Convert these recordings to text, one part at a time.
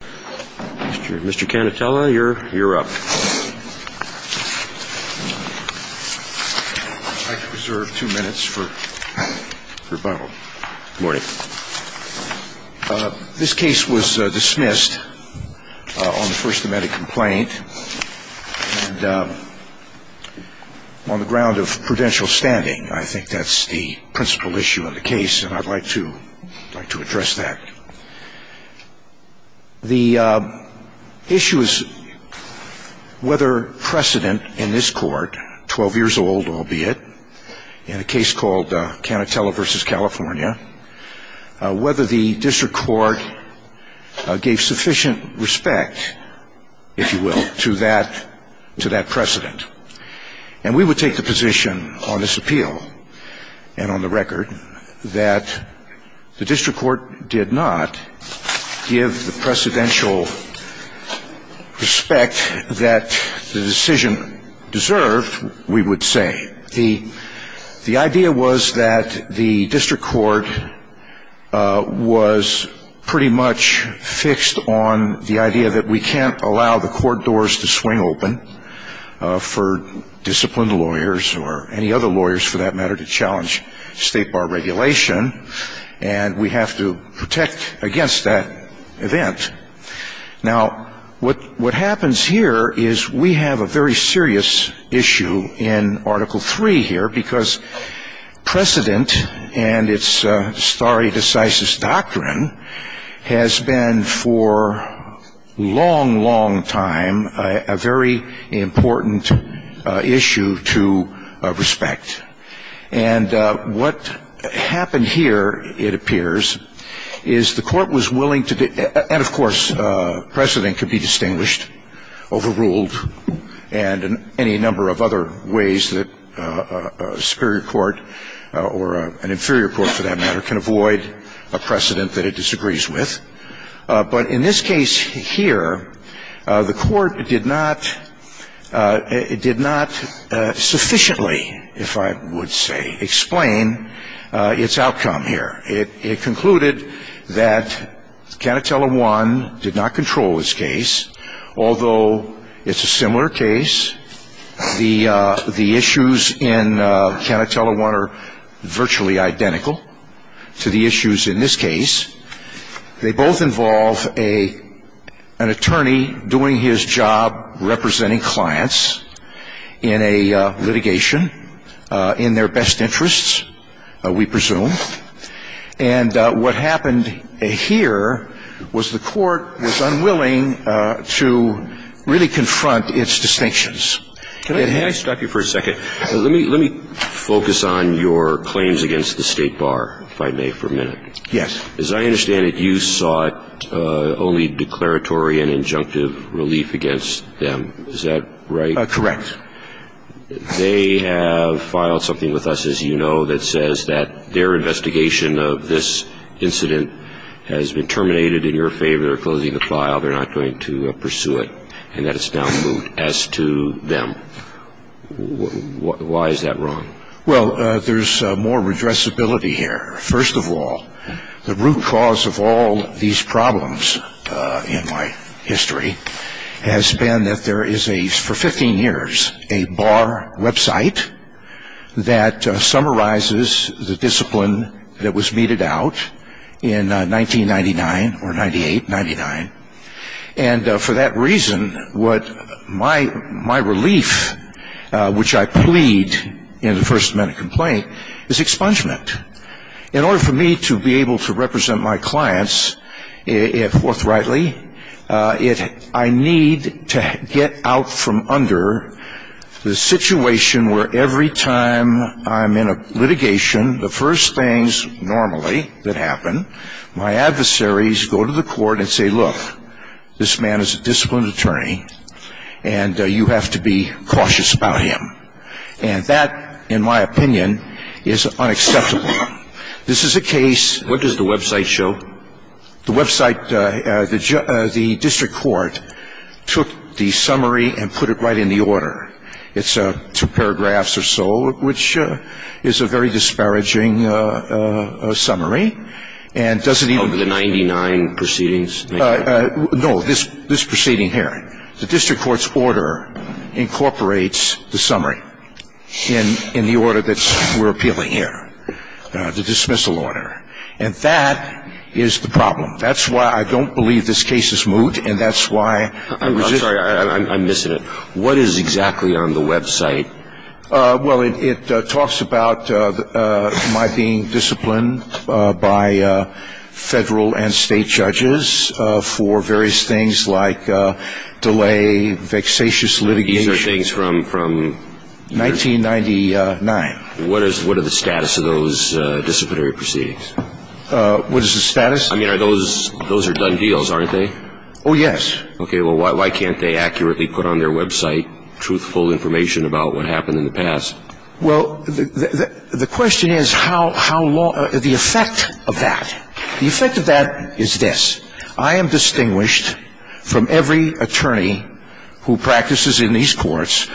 Mr. Canatella, you're up. I'd like to reserve two minutes for rebuttal. Good morning. This case was dismissed on the first amendment complaint and on the ground of prudential standing. I think that's the principal issue of the case and I'd like to address that. The issue is whether precedent in this court, 12 years old albeit, in a case called Canatella v. California, whether the district court gave sufficient respect, if you will, to that precedent. And we would take the position on this appeal and on the record that the district court did not give the precedential respect that the decision deserved, we would say. The idea was that the district court was pretty much fixed on the idea that we can't allow the court doors to swing open for disciplined lawyers or any other lawyers, for that matter, to challenge state bar regulation. And we have to protect against that event. Now, what happens here is we have a very serious issue in Article III here because precedent and its stare decisis doctrine has been for a long, long time a very important issue to respect. And what happened here, it appears, is the court was willing to be – and, of course, precedent can be distinguished, overruled, and any number of other ways that a superior court or an inferior court, for that matter, can avoid a precedent that it disagrees with. But in this case here, the court did not – it did not sufficiently, if I would say, explain its outcome here. It concluded that Canatella I did not control this case, although it's a similar case. And what happens here is the issues in Canatella I are virtually identical to the issues in this case. They both involve an attorney doing his job representing clients in a litigation in their best interests, we presume. And what happened here was the court was unwilling to really confront its distinctions. Can I stop you for a second? Let me focus on your claims against the state bar, if I may, for a minute. Yes. As I understand it, you sought only declaratory and injunctive relief against them. Is that right? Correct. They have filed something with us, as you know, that says that their investigation of this incident has been terminated in your favor. They're closing the file. They're not going to pursue it, and that it's now moot as to them. Why is that wrong? Well, there's more redressability here. First of all, the root cause of all these problems in my history has been that there is a – for 15 years – a bar website that summarizes the discipline that was meted out in 1999 or 98, 99. And for that reason, my relief, which I plead in the first amendment complaint, is expungement. In order for me to be able to represent my clients forthrightly, I need to get out from under the situation where every time I'm in a litigation, the first things normally that happen, my adversaries go to the court and say, look, this man is a disciplined attorney, and you have to be cautious about him. And that, in my opinion, is unacceptable. This is a case – What does the website show? The website – the district court took the summary and put it right in the order. It's two paragraphs or so, which is a very disparaging summary, and doesn't even – Over the 99 proceedings? No, this proceeding here. The district court's order incorporates the summary in the order that we're appealing here, the dismissal order. And that is the problem. That's why I don't believe this case is moot, and that's why – I'm sorry, I'm missing it. What is exactly on the website? Well, it talks about my being disciplined by federal and state judges for various things like delay, vexatious litigation – These are things from – 1999. What is the status of those disciplinary proceedings? What is the status? I mean, those are done deals, aren't they? Oh, yes. Okay, well, why can't they accurately put on their website truthful information about what happened in the past? Well, the question is how long – the effect of that. The effect of that is this. I am distinguished from every attorney who practices in these courts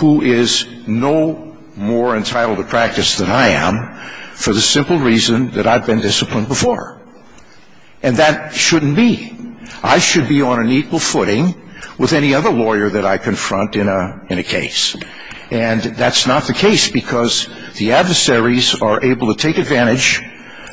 who is no more entitled to practice than I am for the simple reason that I've been disciplined before. And that shouldn't be. I should be on an equal footing with any other lawyer that I confront in a case. And that's not the case because the adversaries are able to take advantage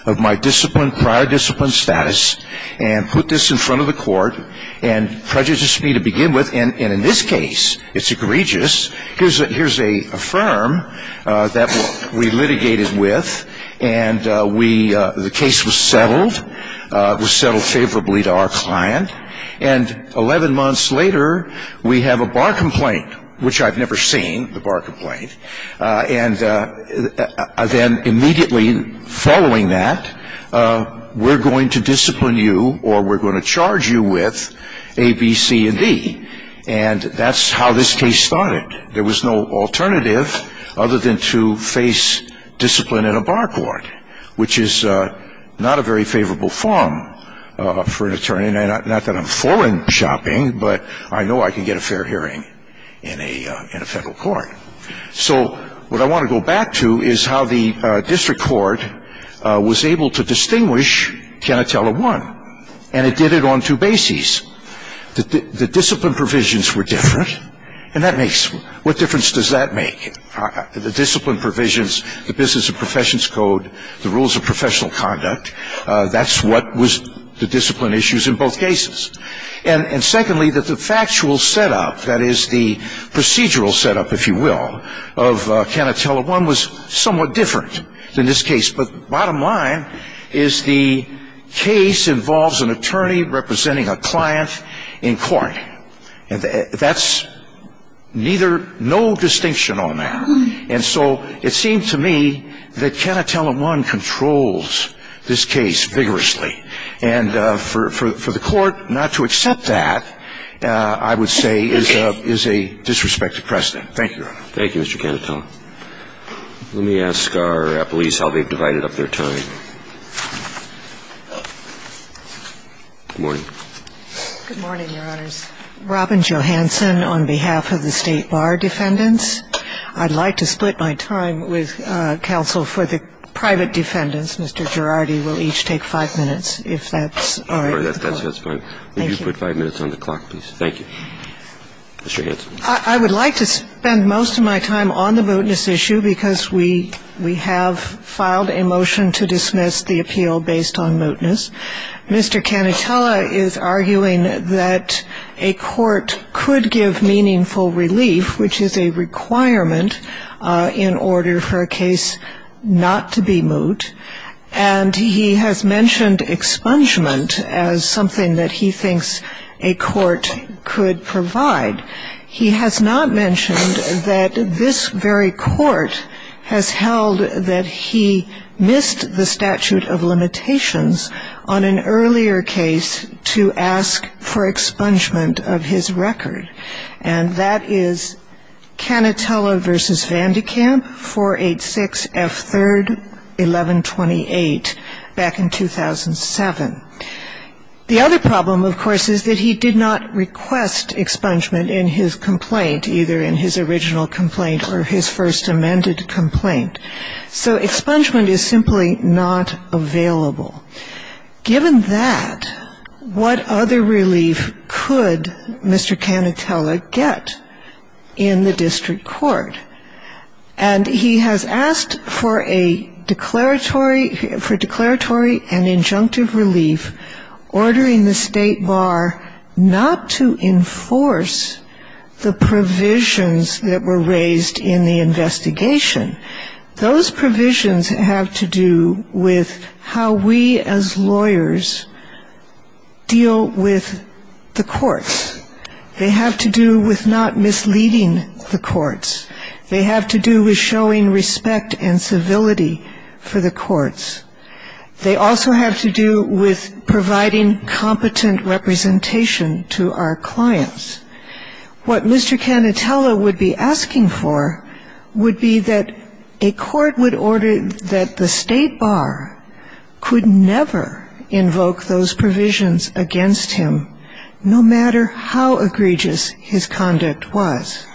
of my disciplined – prior disciplined status and put this in front of the court and prejudice me to begin with. And in this case, it's egregious. Here's a firm that we litigated with, and we – the case was settled, was settled favorably to our client. And 11 months later, we have a bar complaint, which I've never seen, the bar complaint. And then immediately following that, we're going to discipline you or we're going to charge you with A, B, C, and D. And that's how this case started. There was no alternative other than to face discipline in a bar court, which is not a very favorable form for an attorney. Not that I'm foreign shopping, but I know I can get a fair hearing in a – in a federal court. So what I want to go back to is how the district court was able to distinguish Canatella 1, and it did it on two bases. The discipline provisions were different, and that makes – what difference does that make? The discipline provisions, the business and professions code, the rules of professional conduct, that's what was the discipline issues in both cases. And secondly, that the factual setup, that is the procedural setup, if you will, of Canatella 1 was somewhat different than this case. But bottom line is the case involves an attorney representing a client in court. And that's neither – no distinction on that. And so it seemed to me that Canatella 1 controls this case vigorously. And for the court not to accept that, I would say, is a – is a disrespected precedent. Thank you, Your Honor. Thank you, Mr. Canatella. Let me ask our police how they've divided up their time. Good morning. Good morning, Your Honors. Robin Johanson on behalf of the State Bar defendants. I'd like to split my time with counsel for the private defendants. Mr. Girardi will each take five minutes, if that's all right with the Court. That's fine. Thank you. Would you put five minutes on the clock, please? Thank you. Mr. Hanson. I would like to spend most of my time on the mootness issue because we – we have filed a motion to dismiss the appeal based on mootness. Mr. Canatella is arguing that a court could give meaningful relief, which is a requirement in order for a case not to be moot. And he has mentioned expungement as something that he thinks a court could provide. He has not mentioned that this very court has held that he missed the statute of limitations on an earlier case to ask for expungement of his record, and that is Canatella v. Vandekamp, 486 F. 3rd, 1128, back in 2007. The other problem, of course, is that he did not request expungement in his complaint, either in his original complaint or his first amended complaint. So expungement is simply not available. Given that, what other relief could Mr. Canatella get in the district court? And he has asked for a declaratory – for declaratory and injunctive relief ordering the State Bar not to enforce the provisions that were raised in the investigation. Those provisions have to do with how we as lawyers deal with the courts. They have to do with not misleading the courts. They have to do with showing respect and civility for the courts. They also have to do with providing competent representation to our clients. What Mr. Canatella would be asking for would be that a court would order that the State Bar could never invoke those provisions against him, no matter how egregious his conduct was.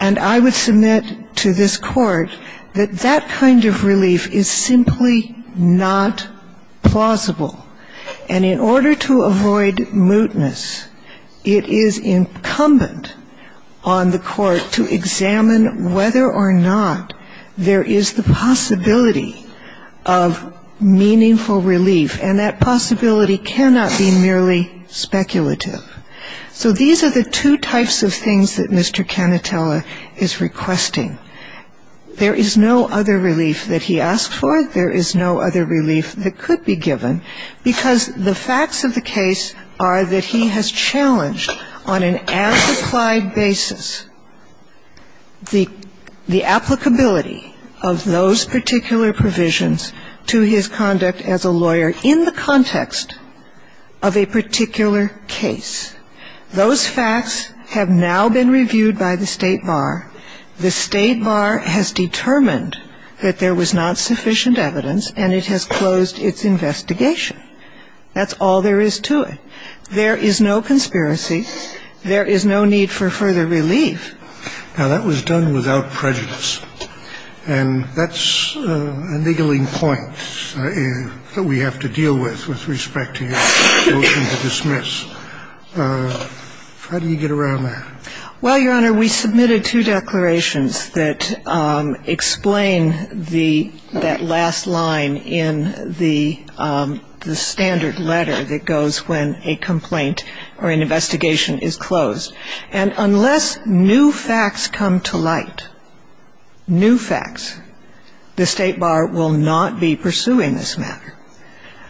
And I would submit to this court that that kind of relief is simply not plausible. And in order to avoid mootness, it is incumbent on the court to examine whether or not there is the possibility of meaningful relief, and that possibility cannot be merely speculative. So these are the two types of things that Mr. Canatella is requesting. There is no other relief that he asked for. There is no other relief that could be given, because the facts of the case are that he has challenged on an as-applied basis the applicability of those particular provisions to his conduct as a lawyer in the context of a particular case. Those facts have now been reviewed by the State Bar. The State Bar has determined that there was not sufficient evidence, and it has closed its investigation. That's all there is to it. There is no conspiracy. There is no need for further relief. Now, that was done without prejudice, and that's a niggling point that we have to deal with with respect to your motion to dismiss. How do you get around that? Well, Your Honor, we submitted two declarations that explain that last line in the standard letter that goes when a complaint or an investigation is closed. And unless new facts come to light, new facts, the State Bar will not be pursuing this matter.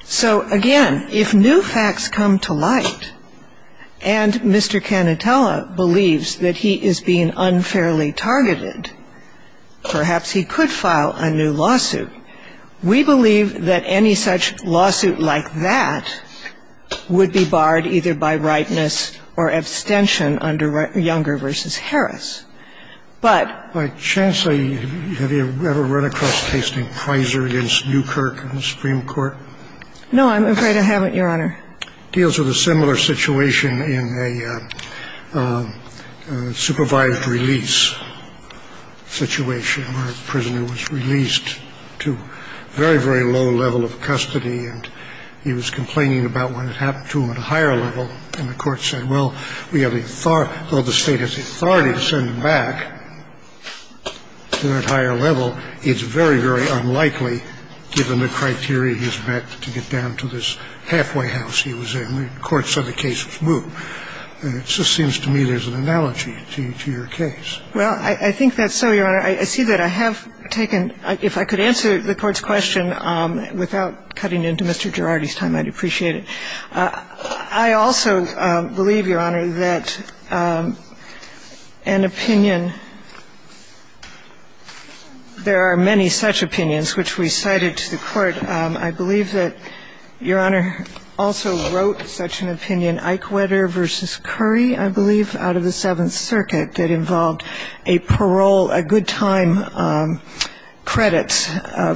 So, again, if new facts come to light, and Mr. Canitella believes that he is being unfairly targeted, perhaps he could file a new lawsuit. We believe that any such lawsuit like that would be barred either by rightness or abstention under Younger v. Harris. But by chance, have you ever run across a case named Kreiser against Newkirk in the Supreme Court? No, I'm afraid I haven't, Your Honor. It deals with a similar situation in a supervised release situation where a prisoner was released to a very, very low level of custody, and he was complaining about what had happened to him at a higher level. And the Court said, well, we have the authority or the State has the authority to send him back to that higher level. It's very, very unlikely, given the criteria he's met, to get down to this halfway house he was in. The Court said the case was moot. And it just seems to me there's an analogy to your case. Well, I think that's so, Your Honor. I see that I have taken, if I could answer the Court's question without cutting into Mr. Girardi's time, I'd appreciate it. I also believe, Your Honor, that an opinion, there are many such opinions which we cited to the Court. I believe that Your Honor also wrote such an opinion, Eichwedder v. Curry, I believe, out of the Seventh Circuit, that involved a parole, a good-time credit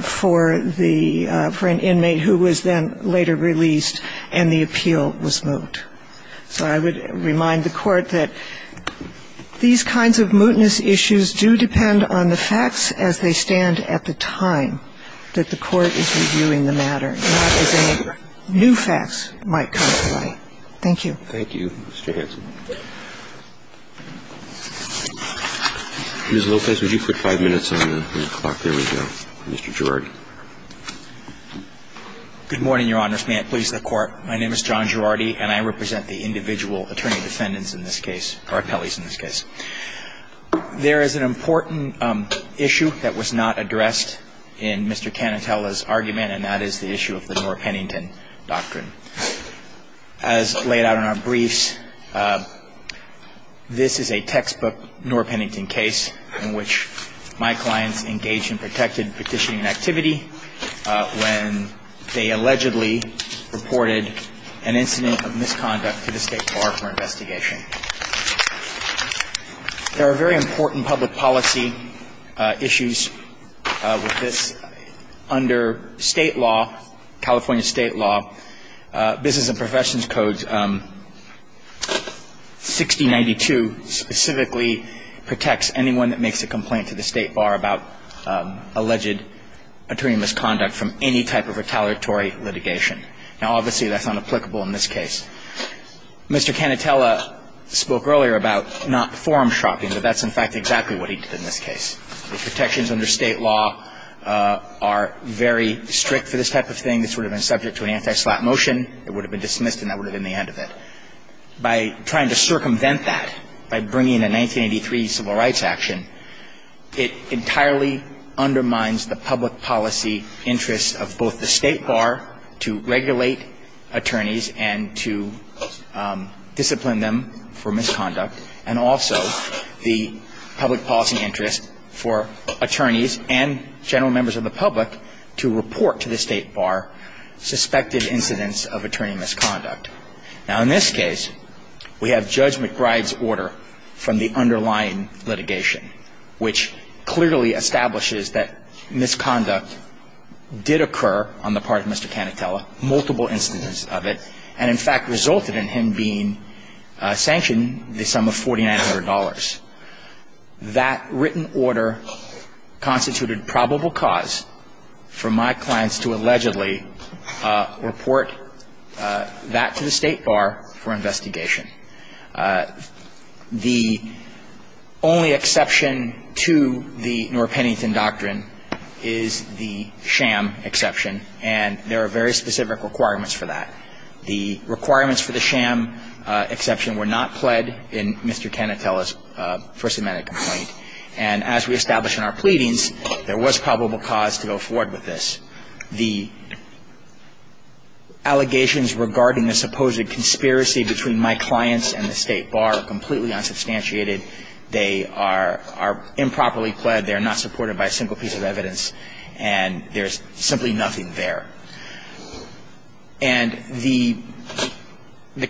for an inmate who was then later released, and the appeal was moot. So I would remind the Court that these kinds of mootness issues do depend on the facts as they stand at the time that the Court is reviewing the matter, not as any new facts might come to light. Thank you. Thank you, Mr. Hanson. Ms. Lopez, would you put five minutes on the clock? There we go. Mr. Girardi. Good morning, Your Honors. May it please the Court. My name is John Girardi, and I represent the individual attorney defendants in this case, or appellees in this case. There is an important issue that was not addressed in Mr. Canatella's argument, and that is the issue of the Noor-Pennington Doctrine. As laid out in our briefs, this is a textbook Noor-Pennington case in which my clients engage in protected petitioning activity when they allegedly reported an incident of misconduct to the State Bar for investigation. There are very important public policy issues with this. Under State law, California State law, Business and Professions Code 6092 specifically protects anyone that makes a complaint to the State Bar about alleged attorney misconduct from any type of retaliatory litigation. Now, obviously, that's not applicable in this case. Mr. Canatella spoke earlier about not forum shopping, but that's, in fact, exactly what he did in this case. The protections under State law are very strict for this type of thing. This would have been subject to an anti-slap motion. It would have been dismissed and that would have been the end of it. By trying to circumvent that, by bringing a 1983 civil rights action, it entirely undermines the public policy interests of both the State Bar to regulate attorneys and to discipline them for misconduct, and also the public policy interest for attorneys and general members of the public to report to the State Bar suspected incidents of attorney misconduct. Now, in this case, we have Judge McBride's order from the underlying litigation, which clearly establishes that misconduct did occur on the part of Mr. Canatella, multiple instances of it, and, in fact, resulted in him being sanctioned the sum of $4,900. That written order constituted probable cause for my clients to allegedly report that to the State Bar for investigation. The only exception to the Norrpennington Doctrine is the sham exception, and there are very specific requirements for that. The requirements for the sham exception were not pled in Mr. Canatella's First Amendment complaint, and as we established in our pleadings, there was probable cause to go forward with this. The allegations regarding the supposed conspiracy between my clients and the State Bar are completely unsubstantiated. They are improperly pled. They are not supported by a single piece of evidence. And there's simply nothing there. And the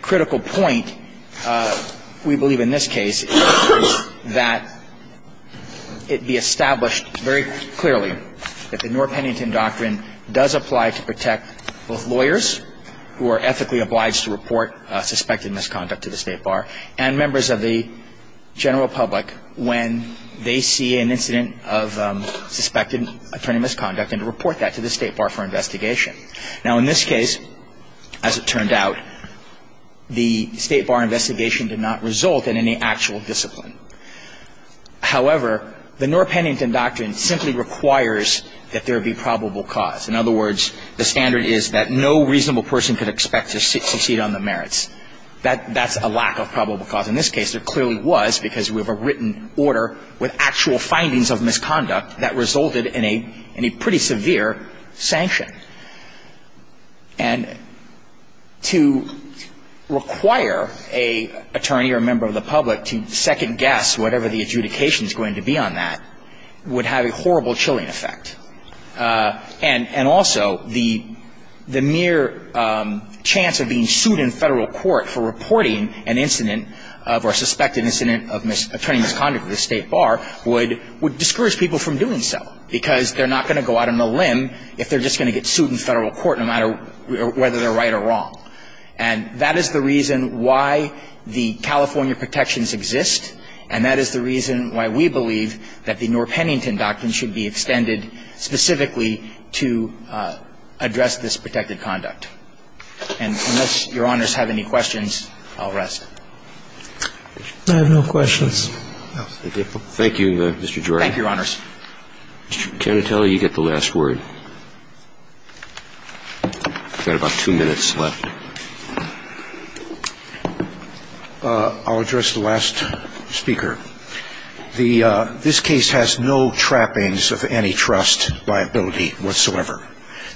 critical point, we believe in this case, is that it be established very clearly that the Norrpennington Doctrine does apply to protect both lawyers who are ethically obliged to report suspected misconduct to the State Bar and members of the general public when they see an incident of suspected attorney misconduct and report that to the State Bar for investigation. Now, in this case, as it turned out, the State Bar investigation did not result in any actual discipline. However, the Norrpennington Doctrine simply requires that there be probable cause. In other words, the standard is that no reasonable person could expect to succeed on the merits. That's a lack of probable cause. In this case, there clearly was, because we have a written order with actual findings of misconduct that resulted in a pretty severe sanction. And to require an attorney or a member of the public to second-guess whatever the adjudication is going to be on that would have a horrible chilling effect. And also, the mere chance of being sued in Federal court for reporting an incident of or suspected incident of attorney misconduct to the State Bar would discourage people from doing so, because they're not going to go out on a limb if they're just going to get sued in Federal court no matter whether they're right or wrong. And that is the reason why the California protections exist, and that is the reason why we believe that the Norrpennington Doctrine should be extended specifically to address this protected conduct. And unless Your Honors have any questions, I'll rest. I have no questions. Thank you, Your Honors. Mr. Canatelli, you get the last word. You've got about two minutes left. I'll address the last speaker. This case has no trappings of antitrust liability whatsoever.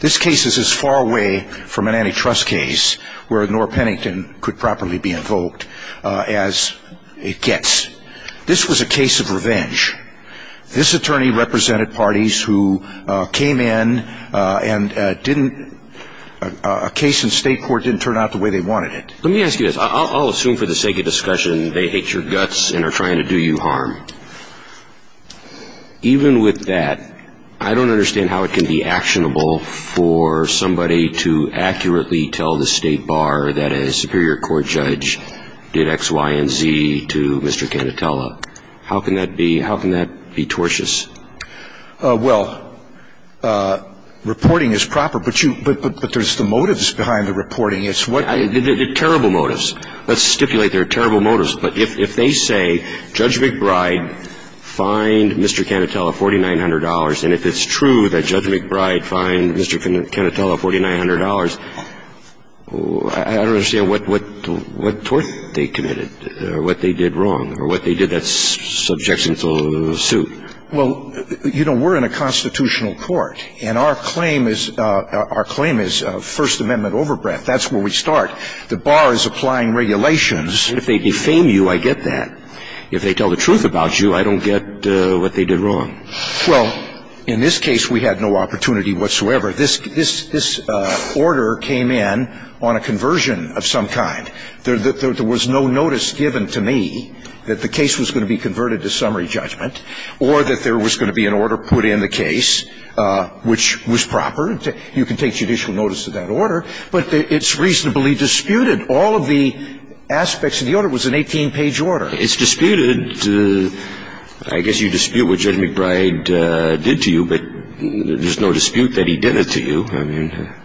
This case is as far away from an antitrust case where Norrpennington could properly be invoked as it gets. This was a case of revenge. This attorney represented parties who came in and didn't – a case in State court didn't turn out the way they wanted it. Let me ask you this. I'll assume for the sake of discussion they hate your guts and are trying to do you harm. Even with that, I don't understand how it can be actionable for somebody to accurately tell the State Bar that a Superior Court judge did X, Y, and Z to Mr. Canatelli. How can that be – how can that be tortious? Well, reporting is proper, but you – but there's the motives behind the reporting. It's what – They're terrible motives. Let's stipulate they're terrible motives. But if they say Judge McBride fined Mr. Canatelli $4,900, and if it's true that Judge McBride fined Mr. Canatelli $4,900, I don't understand what – what tort they committed or what they did wrong or what they did that subjects them to suit. Well, you know, we're in a constitutional court, and our claim is – our claim is First Amendment overbreadth. That's where we start. The Bar is applying regulations. But if they defame you, I get that. If they tell the truth about you, I don't get what they did wrong. Well, in this case, we had no opportunity whatsoever. This – this – this order came in on a conversion of some kind. There – there was no notice given to me that the case was going to be converted to summary judgment or that there was going to be an order put in the case which was proper. You can take judicial notice of that order, but it's reasonably disputed. All of the aspects of the order was an 18-page order. It's disputed. I guess you dispute what Judge McBride did to you, but there's no dispute that he did it to you.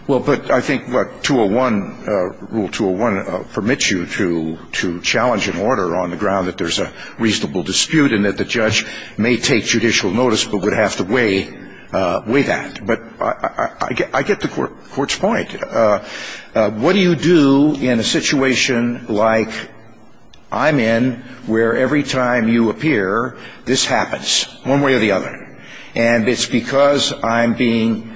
Well, but I think, what, 201 – Rule 201 permits you to – to challenge an order on the ground that there's a reasonable dispute and that the judge may take judicial notice but would have to weigh – weigh that. But I get – I get the court's point. What do you do in a situation like I'm in where every time you appear, this happens one way or the other? And it's because I'm being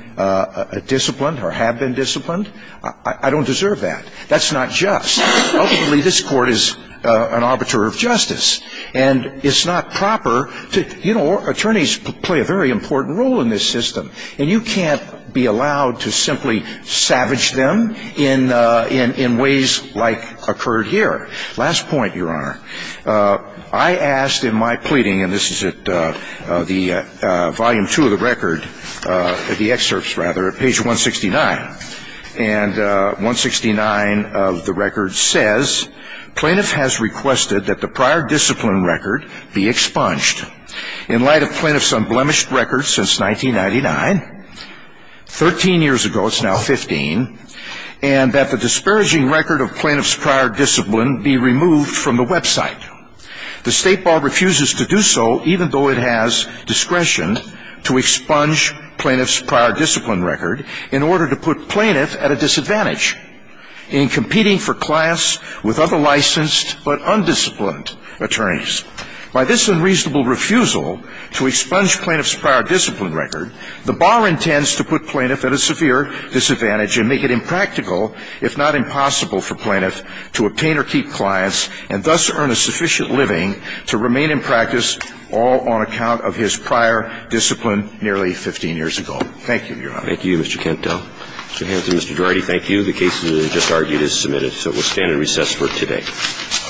disciplined or have been disciplined? I – I don't deserve that. That's not just. Ultimately, this court is an arbiter of justice. And it's not proper to – you know, attorneys play a very important role in this system. And you can't be allowed to simply savage them in – in – in ways like occurred here. Last point, Your Honor. I asked in my pleading, and this is at the volume two of the record, the excerpts, rather, at page 169. And 169 of the record says, Plaintiff has requested that the prior discipline record be expunged. In light of Plaintiff's unblemished record since 1999, 13 years ago, it's now 15, and that the disparaging record of Plaintiff's prior discipline be removed from the website. The State Bar refuses to do so, even though it has discretion to expunge Plaintiff's prior discipline record in order to put Plaintiff at a disadvantage in competing for class with other licensed but undisciplined attorneys. By this unreasonable refusal to expunge Plaintiff's prior discipline record, the if not impossible for Plaintiff to obtain or keep clients and thus earn a sufficient living to remain in practice all on account of his prior discipline nearly 15 years ago. Thank you, Your Honor. Thank you, Mr. Kent. Mr. Hanson, Mr. Duarte, thank you. The case that was just argued is submitted. So we'll stand and recess for today.